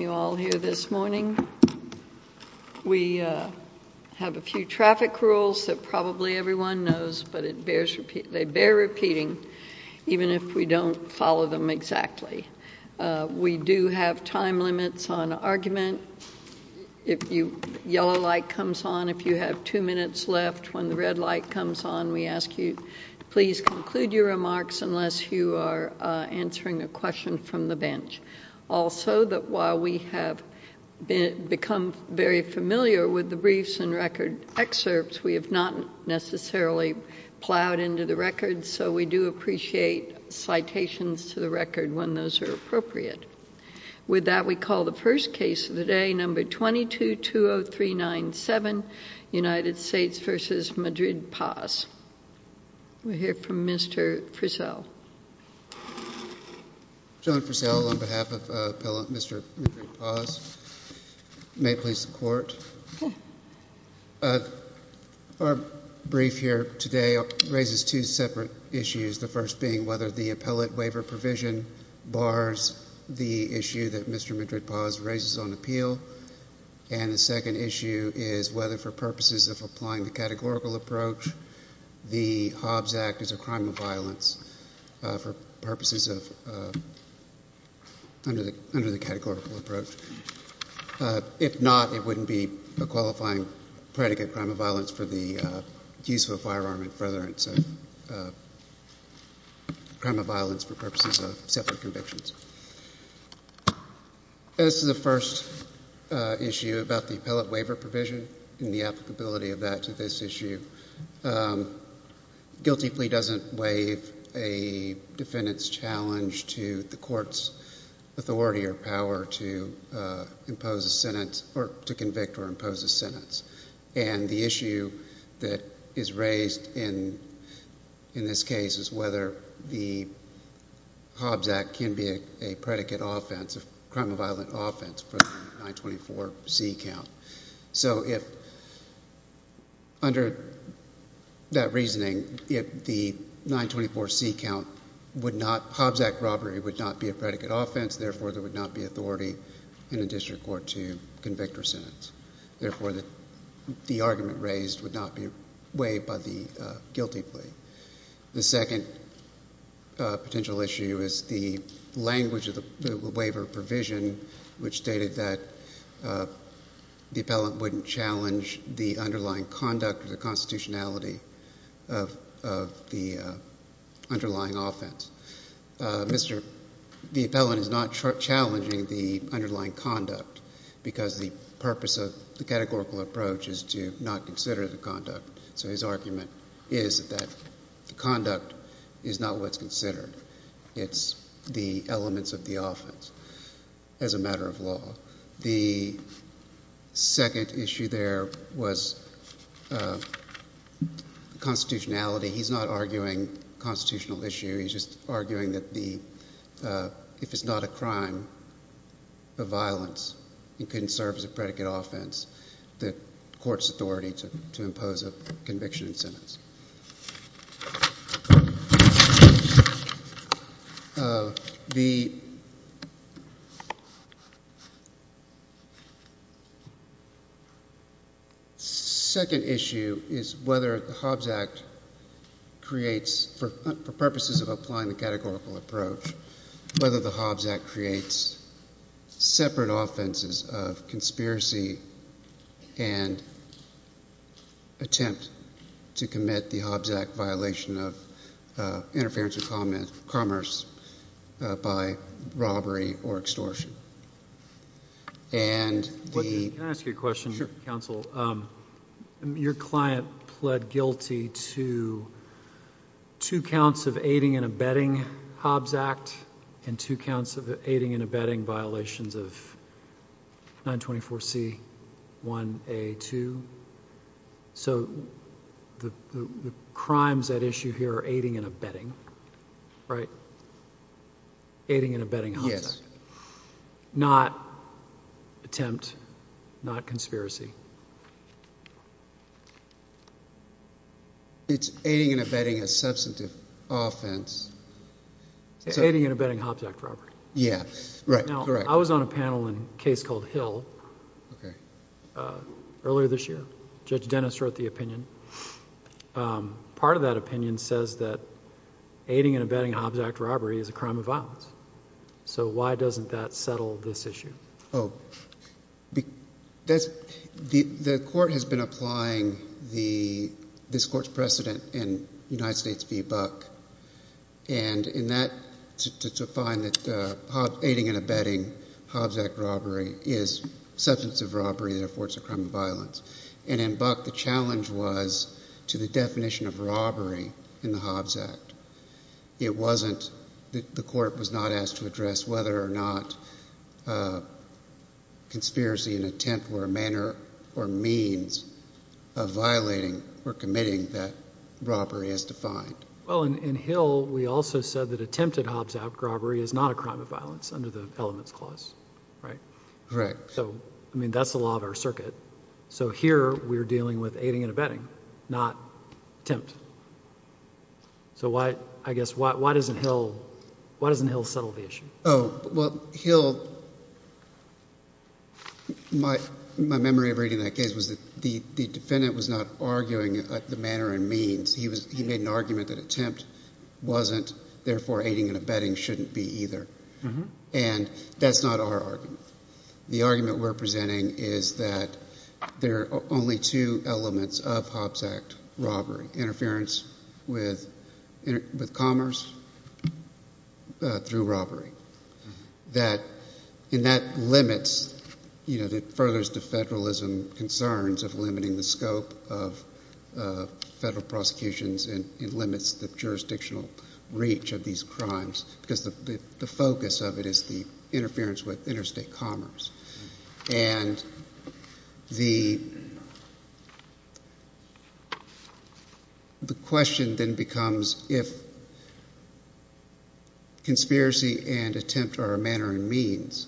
You all here this morning. We have a few traffic rules that probably everyone knows, but they bear repeating, even if we don't follow them exactly. We do have time limits on argument. If the yellow light comes on, if you have two minutes left, when the red light comes on, we ask you to please conclude your remarks unless you are answering a question from the floor. We have become very familiar with the briefs and record excerpts. We have not necessarily plowed into the records, so we do appreciate citations to the record when those are appropriate. With that, we call the first case of the day, number 22-20397, United States v. Madrid-Paz. We'll hear from Mr. Frizzell. John Frizzell on behalf of Mr. Madrid-Paz. May it please the Court. Our brief here today raises two separate issues, the first being whether the appellate waiver provision bars the issue that Mr. Madrid-Paz raises on appeal, and the second issue is whether, for purposes of applying the categorical approach, the Hobbs Act is a crime of violence under the categorical approach. If not, it wouldn't be a qualifying predicate crime of violence for the use of a firearm in furtherance of crime of violence for purposes of separate convictions. This is the first issue about the appellate waiver provision and the applicability of that to this issue. Guilty plea doesn't waive a defendant's challenge to the court's authority or power to impose a sentence or to convict or impose a sentence, and the issue that is a predicate offense, a crime of violence offense for the 924C count. So if, under that reasoning, if the 924C count would not, Hobbs Act robbery would not be a predicate offense, therefore there would not be authority in a district court to convict or sentence. Therefore the argument raised would not be waived by the guilty plea. The second potential issue is the language of the waiver provision which stated that the appellant wouldn't challenge the underlying conduct or the constitutionality of the underlying offense. The appellant is not challenging the underlying conduct because the purpose of the categorical approach is to not consider the conduct. So his argument is that the conduct is not what's considered. It's the elements of the offense as a matter of law. The second issue there was constitutionality. He's not arguing constitutional issue. He's just arguing that the, if it's not a crime of violence, it can serve as a predicate offense, the court's authority to impose a conviction and sentence. The second issue is whether the Hobbs Act creates, for purposes of applying the categorical approach, whether the Hobbs Act creates separate offenses of conspiracy and attempt to commit the Hobbs Act violation of interference of commerce by robbery or extortion. Can I ask you a question, counsel? Your client pled guilty to two counts of aiding and abetting Hobbs Act and two counts of aiding and abetting violations of 924C1A2. So the crimes at issue here are aiding and abetting, right? Aiding and abetting Hobbs Act. Yes. Not attempt, not conspiracy. It's aiding and abetting a substantive offense. It's aiding and abetting Hobbs Act robbery. Yeah, correct. Now, I was on a panel in a case called Hill earlier this year. Judge Dennis wrote the opinion. Part of that opinion says that aiding and abetting The court has been applying this court's precedent in United States v. Buck. And in that, to find that aiding and abetting Hobbs Act robbery is substantive robbery, therefore it's a crime of violence. And in Buck, the challenge was to the definition of robbery in the Hobbs Act. It wasn't, the court was not asked to address whether or not conspiracy and attempt were a manner or means of violating or committing that robbery as defined. Well, in Hill, we also said that attempted Hobbs Act robbery is not a crime of violence under the elements clause, right? Correct. So, I mean, that's the law of our circuit. So here, we're dealing with aiding and abetting, not attempt. So I guess, why doesn't Hill settle the issue? Oh, well, Hill... my memory of reading that case was that the defendant was not arguing the manner and means. He made an argument that attempt wasn't, therefore aiding and abetting shouldn't be either. And that's not our argument. The argument we're presenting is that there are only two elements of Hobbs Act robbery. Interference with commerce through robbery. And that limits, you know, that furthers the federalism concerns of limiting the scope of federal prosecutions and limits the jurisdictional reach of these crimes because the focus of that is the interference with interstate commerce. And the question then becomes if conspiracy and attempt are a manner and means,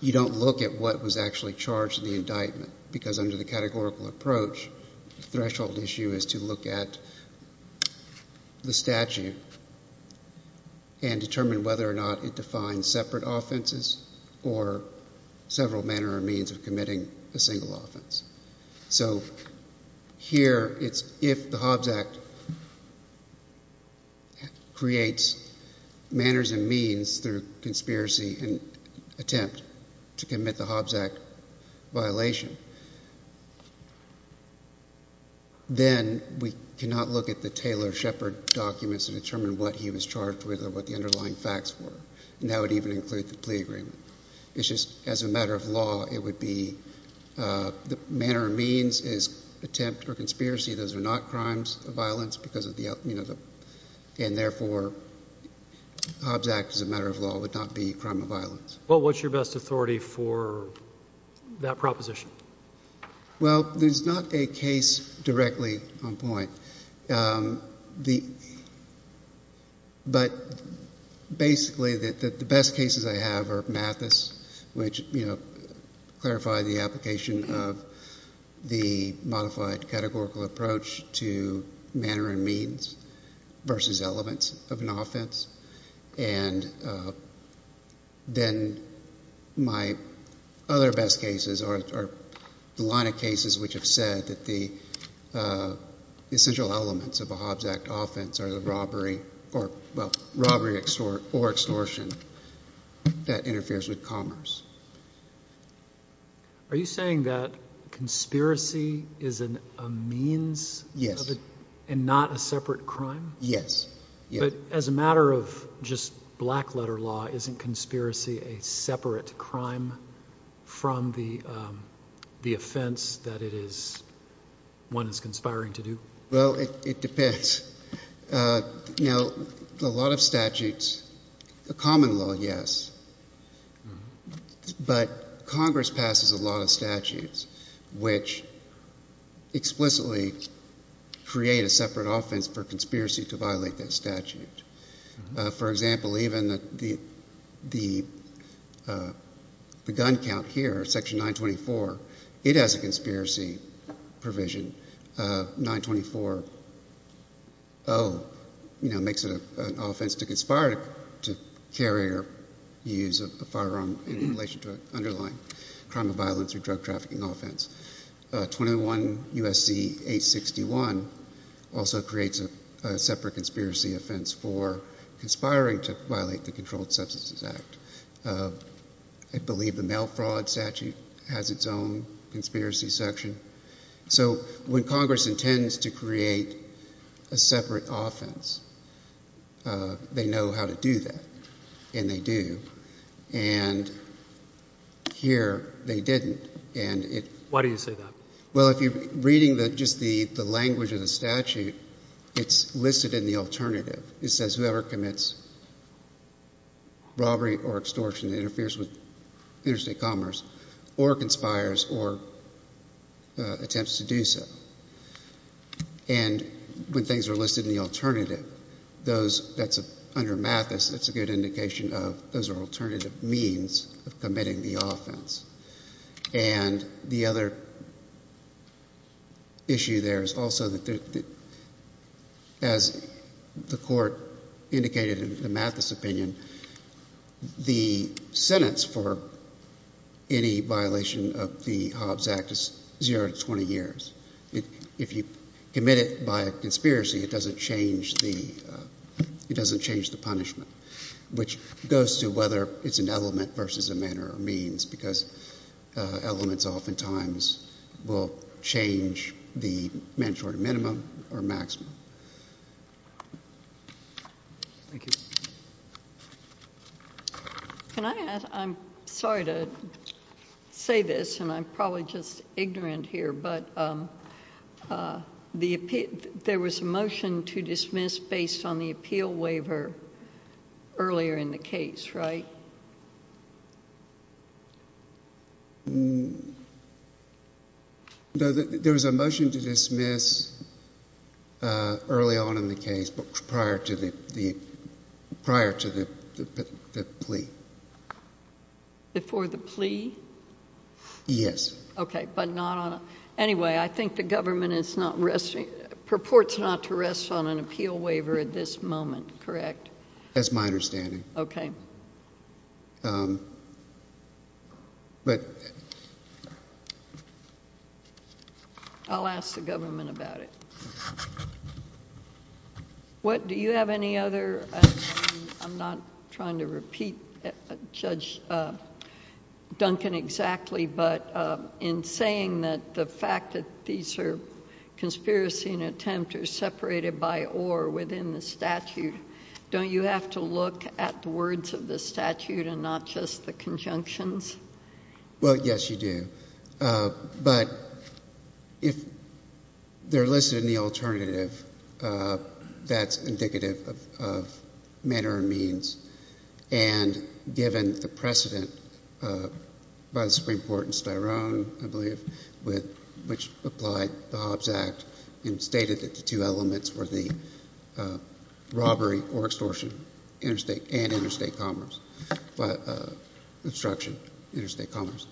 you don't look at what was actually charged in the indictment because under the categorical approach, the threshold issue is to look at the statute and determine whether or not it defines separate offenses or several manner or means of committing a single offense. So here, it's if the Hobbs Act creates manners and means through conspiracy and attempt to commit the Hobbs Act violation, then we cannot look at the Taylor Shepard documents and determine what he was charged with or what the underlying facts were. And that would even include the plea agreement. It's just as a matter of law, it would be the manner and means is attempt or conspiracy. Those are not crimes of violence because of the, you know, and therefore, Hobbs Act as a matter of law would not be a crime of violence. Well, what's your best authority for that proposition? Well, there's not a case directly on point. But basically, the best cases I have are Mathis which, you know, clarify the application of the modified categorical approach to manner and means versus elements of an offense. And then my other best cases are the line of cases which have said that the essential elements of a Hobbs Act offense are the robbery or, well, robbery or extortion that interferes with commerce. Are you saying that conspiracy is a means? Yes. And not a separate crime? Yes. But as a matter of just black letter law, isn't conspiracy a separate crime from the offense that it is, one is conspiring to do? Well, it depends. Now, a lot of statutes, the common law, yes. But Congress passes a lot of statutes which explicitly create a separate offense for conspiracy to violate that statute. For example, even the gun count here, Section 924, it has a conspiracy provision. 924-0, you know, makes it an offense to conspire to carry or use a firearm in relation to an underlying crime of violence or drug trafficking offense. 21 U.S.C. 861 also creates a separate conspiracy offense for conspiring to violate the Controlled Conspiracy Section. So when Congress intends to create a separate offense, they know how to do that, and they do. And here, they didn't. Why do you say that? Well, if you're reading just the language of the statute, it's listed in the alternative. It says whoever commits robbery or extortion that interferes with interstate commerce or conspires or attempts to do so. And when things are listed in the alternative, those that's under Mathis, it's a good indication of those are alternative means of committing the offense. And the other issue there is also that as the Court indicated in the Mathis opinion, the sentence for any violation of the Hobbs Act is zero to 20 years. If you commit it by a conspiracy, it doesn't change the punishment, which goes to whether it's an element versus a manner or means, because elements oftentimes will change the mandatory minimum or maximum. Thank you. Can I add, I'm sorry to say this, and I'm probably just ignorant here, but there was a motion to dismiss based on the appeal waiver earlier in the case, right? There was a motion to dismiss early on in the case, but prior to the plea. Before the plea? Yes. Okay, but not on, anyway, I think the government is not, purports not to rest on an appeal waiver at this moment, correct? That's my understanding. Okay. I'll ask the government about it. Do you have any other, I'm not trying to repeat Judge Duncan exactly, but in saying that the fact that these are conspiracy and contempt are separated by or within the statute, don't you have to look at the words of the statute and not just the conjunctions? Well, yes, you do, but if they're listed in the alternative, that's indicative of manner and means, and given the precedent by the Supreme Court in Styrone, I believe, which applied the Hobbs Act and stated that the two elements were the robbery or extortion and interstate commerce, obstruction, interstate commerce.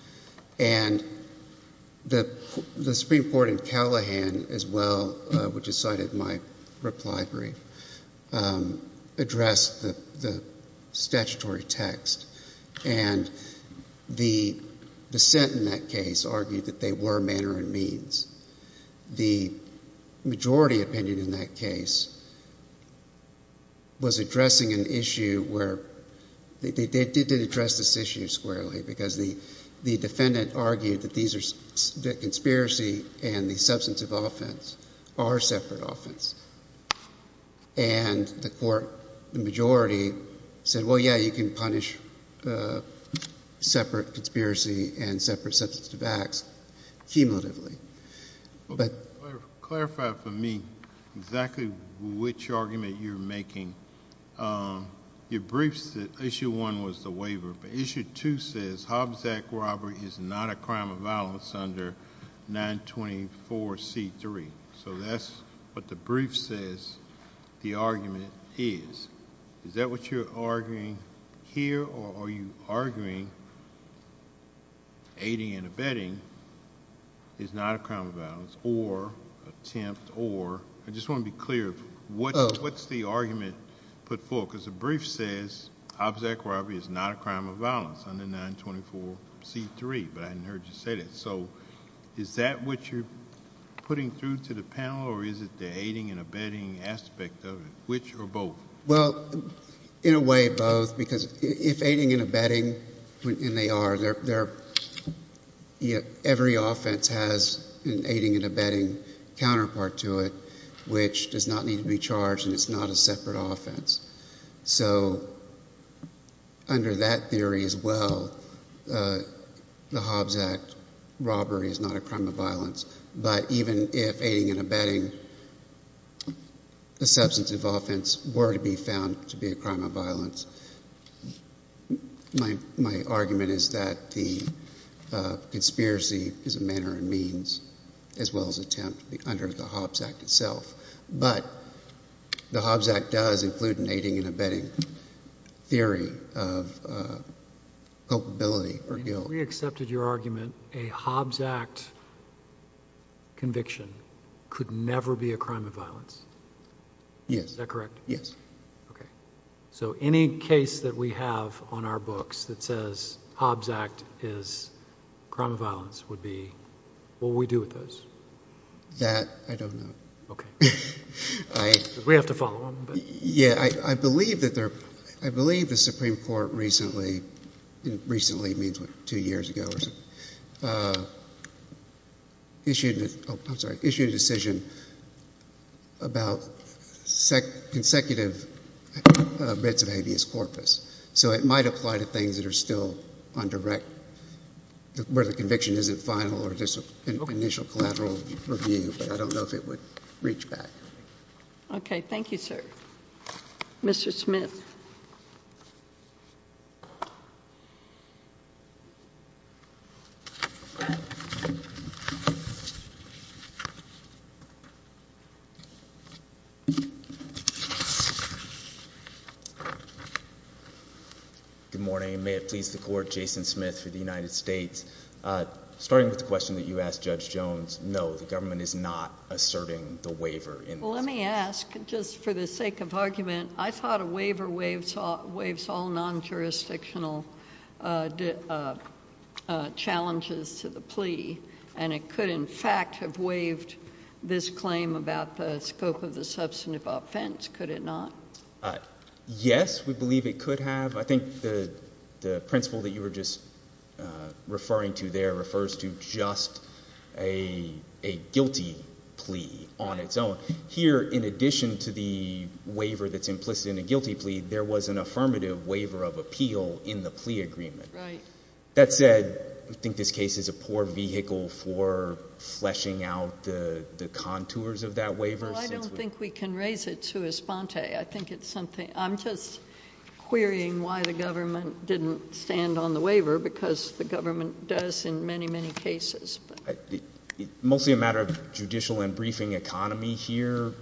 And the Supreme Court in Callahan as well, which is cited in my reply brief, addressed the statutory text, and the dissent in that case argued that they were manner and means. The majority opinion in that case was addressing an issue where they did address this issue squarely, because the defendant argued that conspiracy and the substance of offense are separate offense. And the majority said, well, yeah, you can punish separate conspiracy and separate substance of acts cumulatively. Clarify for me exactly which argument you're making. Your briefs, Issue 1 was the waiver, but Issue 2 says Hobbs Act robbery is not a crime of violence under 924C3. So that's what the brief says the argument is. Is that what you're arguing here, or are you arguing aiding and abetting is not a crime of violence or attempt or... I just want to be clear, what's the argument put forth? Because the brief says Hobbs Act robbery is not a crime of violence under 924C3, but I hadn't heard you say that. So is that what you're putting through to the panel, or is it the aiding and abetting aspect of it, which or both? Well, in a way, both, because if aiding and abetting, and they are, every offense has an aiding and abetting counterpart to it, which does not need to be charged, and it's not a separate offense. So under that theory as well, the Hobbs Act robbery is not a crime of violence, but even if aiding and abetting a substantive offense were to be found to be a crime of violence, my argument is that the conspiracy is a manner and means, as well as attempt, under the Hobbs Act itself. But the Hobbs Act does include an aiding and abetting theory of culpability or guilt. If we accepted your argument, a Hobbs Act conviction could never be a crime of violence? Yes. Is that correct? Yes. Okay. So any case that we have on our books that says Hobbs Act is a crime of violence would be, what would we do with those? That, I don't know. Okay. We have to follow them. I believe the Supreme Court recently issued a decision about consecutive bits of habeas corpus. So it might apply to things that are still on direct, where the conviction isn't final or initial collateral review, but I don't know if it would reach back. Okay. Thank you, sir. Mr. Smith. Good morning. May it please the Court, Jason Smith for the United States. Starting with the question that you asked Judge Jones, no, the government is not asserting the waiver. Let me ask, just for the sake of argument, I thought a waiver waives all non-jurisdictional challenges to the plea, and it could in fact have waived this claim about the scope of the substantive offense, could it not? Yes, we believe it could have. I think the principle that you were just referring to there refers to just a guilty plea on its own. Here, in addition to the waiver that's implicit in a guilty plea, there was an affirmative waiver of appeal in the plea agreement. Right. That said, I think this case is a poor vehicle for fleshing out the contours of that waiver. Well, I don't think we can raise it to a sponte. I think it's something – I'm just querying why the government didn't stand on the waiver, because the government does in many, many cases. It's mostly a matter of judicial and briefing economy here,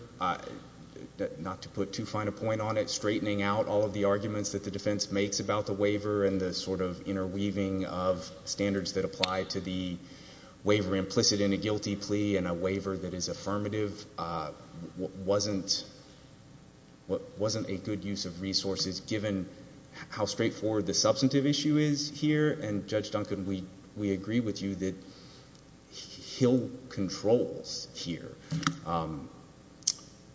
not to put too fine a point on it, straightening out all of the arguments that the defense makes about the waiver and the sort of interweaving of standards that apply to the waiver implicit in a guilty plea and a waiver that is affirmative wasn't a good use of resources, given how straightforward the substantive issue is here. And Judge Duncan, we agree with you that Hill controls here.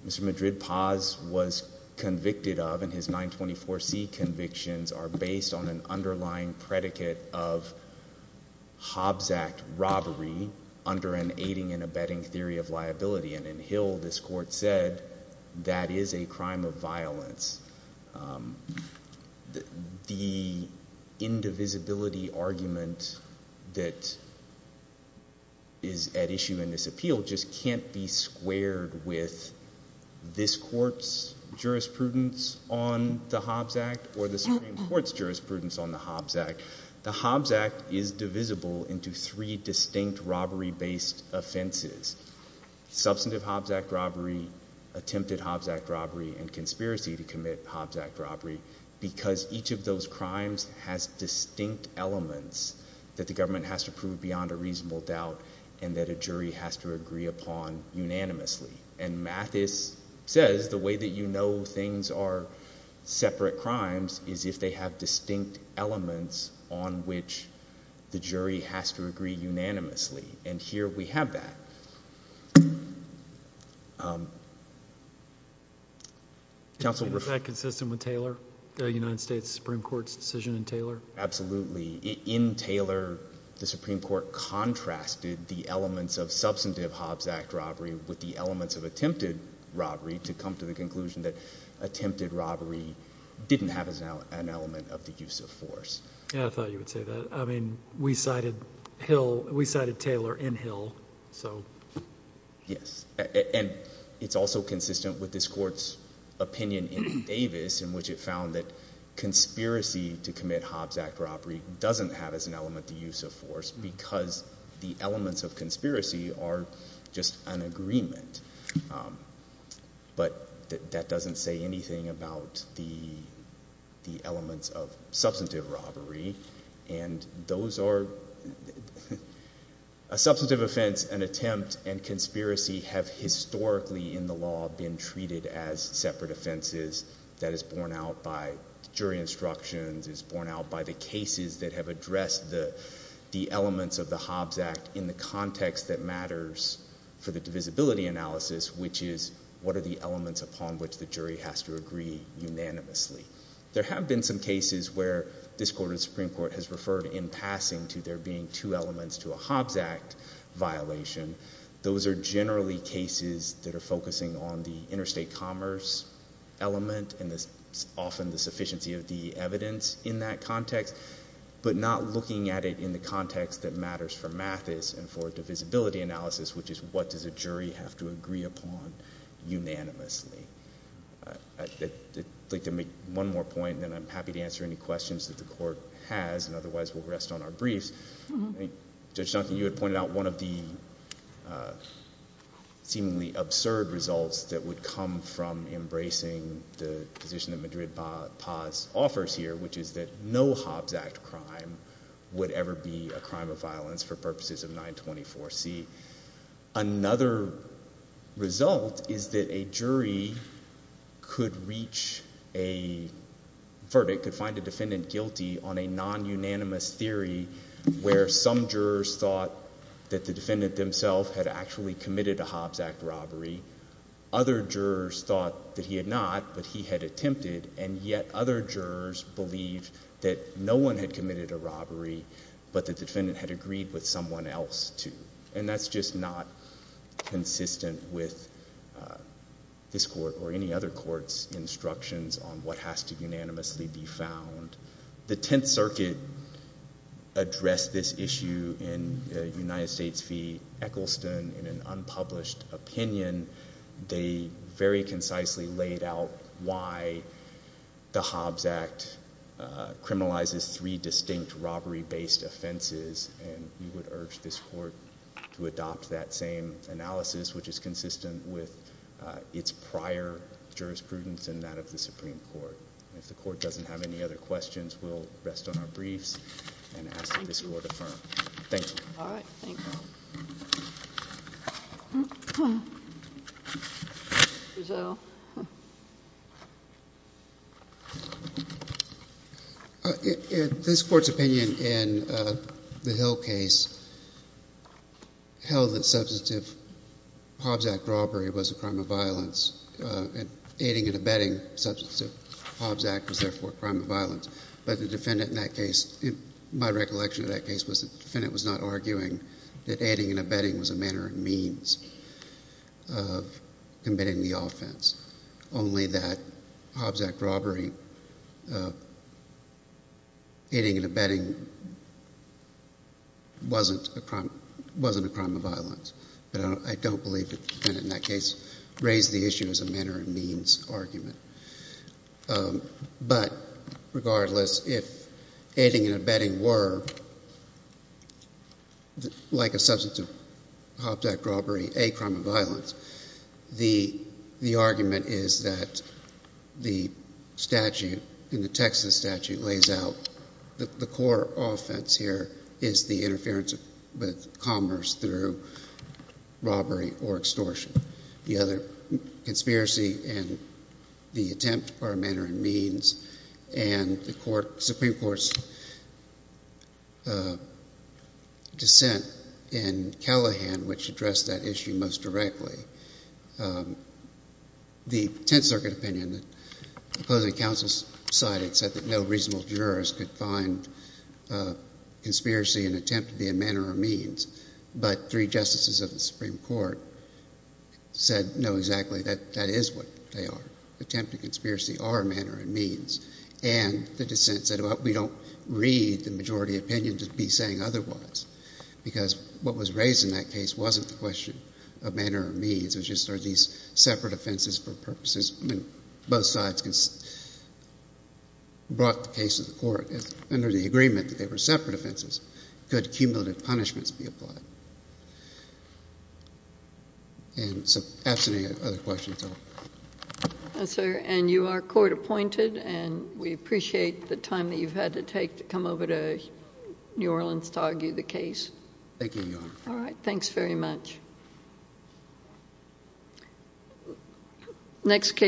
Mr. Madrid-Paz was convicted of, and his 924C convictions are based on an underlying predicate of Hobbs Act robbery under an aiding and abetting theory of liability, and in Hill this court said that is a crime of violence. The indivisibility argument that is at issue in this appeal just can't be squared with this court's jurisprudence on the Hobbs Act or the Supreme Court's jurisprudence on the Hobbs Act. The Hobbs Act is divisible into three distinct robbery-based offenses, substantive Hobbs Act robbery, attempted Hobbs Act robbery, and conspiracy to commit Hobbs Act robbery, because each of those crimes has distinct elements that the government has to prove beyond a reasonable doubt and that a jury has to agree upon unanimously. And Mathis says the way that you know things are separate crimes is if they have distinct elements on which the jury has to agree unanimously, and here we have that. Is that consistent with Taylor, the United States Supreme Court's decision in Taylor? Absolutely. In Taylor, the Supreme Court contrasted the elements of substantive Hobbs Act robbery with the elements of attempted robbery to come to the conclusion that attempted robbery didn't have an element of the use of force. Yeah, I thought you would say that. I mean, we cited Taylor in Hill, so. Yes, and it's also consistent with this court's opinion in Davis, in which it found that conspiracy to commit Hobbs Act robbery doesn't have as an element the use of force because the elements of conspiracy are just an agreement. But that doesn't say anything about the elements of substantive robbery, and those are a substantive offense, an attempt, and conspiracy have historically in the law been treated as separate offenses that is borne out by jury instructions, is borne out by the cases that have addressed the elements of the Hobbs Act in the context that matters for the divisibility analysis, which is what are the elements upon which the jury has to agree unanimously. There have been some cases where this court or the Supreme Court has referred in passing to there being two elements to a Hobbs Act violation. Those are generally cases that are focusing on the interstate commerce element and often the sufficiency of the evidence in that context, but not looking at it in the context that matters for Mathis and for divisibility analysis, which is what does a jury have to agree upon unanimously. I'd like to make one more point, and then I'm happy to answer any questions that the court has, and otherwise we'll rest on our briefs. Judge Duncan, you had pointed out one of the seemingly absurd results that would come from embracing the position that Madrid-Paz offers here, which is that no Hobbs Act crime would ever be a crime of violence for purposes of 924C. Another result is that a jury could reach a verdict, or it could find a defendant guilty on a non-unanimous theory where some jurors thought that the defendant themselves had actually committed a Hobbs Act robbery, other jurors thought that he had not, but he had attempted, and yet other jurors believed that no one had committed a robbery, but the defendant had agreed with someone else to. And that's just not consistent with this court or any other court's instructions on what has to unanimously be found. The Tenth Circuit addressed this issue in United States v. Eccleston in an unpublished opinion. They very concisely laid out why the Hobbs Act criminalizes three distinct robbery-based offenses, and we would urge this court to adopt that same analysis, which is consistent with its prior jurisprudence and that of the Supreme Court. If the court doesn't have any other questions, we'll rest on our briefs and ask that this court affirm. Thank you. All right. Thank you. This court's opinion in the Hill case held that substantive Hobbs Act robbery was a crime of violence, and aiding and abetting substantive Hobbs Act was therefore a crime of violence. But the defendant in that case, my recollection of that case, was that the defendant was not arguing that aiding and abetting was a manner and means of committing the offense, only that Hobbs Act robbery, aiding and abetting, wasn't a crime of violence. But I don't believe that the defendant in that case raised the issue as a manner and means argument. But regardless, if aiding and abetting were, like a substantive Hobbs Act robbery, a crime of violence, the argument is that the statute in the Texas statute lays out the core offense here is the interference with commerce through robbery or extortion. The other conspiracy and the attempt are a manner and means, and the Supreme Court's dissent in Callahan, which addressed that issue most directly, the Tenth Circuit opinion, the opposing counsel's side, had said that no reasonable jurist could find conspiracy and attempt to be a manner or means, but three justices of the Supreme Court said, no, exactly, that is what they are. Attempt and conspiracy are a manner and means. And the dissent said, well, we don't read the majority opinion to be saying otherwise, because what was raised in that case wasn't the question of manner or means. It was just, are these separate offenses for purposes? Both sides brought the case to the court under the agreement that they were separate offenses. Could cumulative punishments be applied? And so, absent any other questions? Yes, sir. And you are court appointed, and we appreciate the time that you've had to take to come over to New Orleans to argue the case. Thank you, Your Honor. All right. Thanks very much. Next case.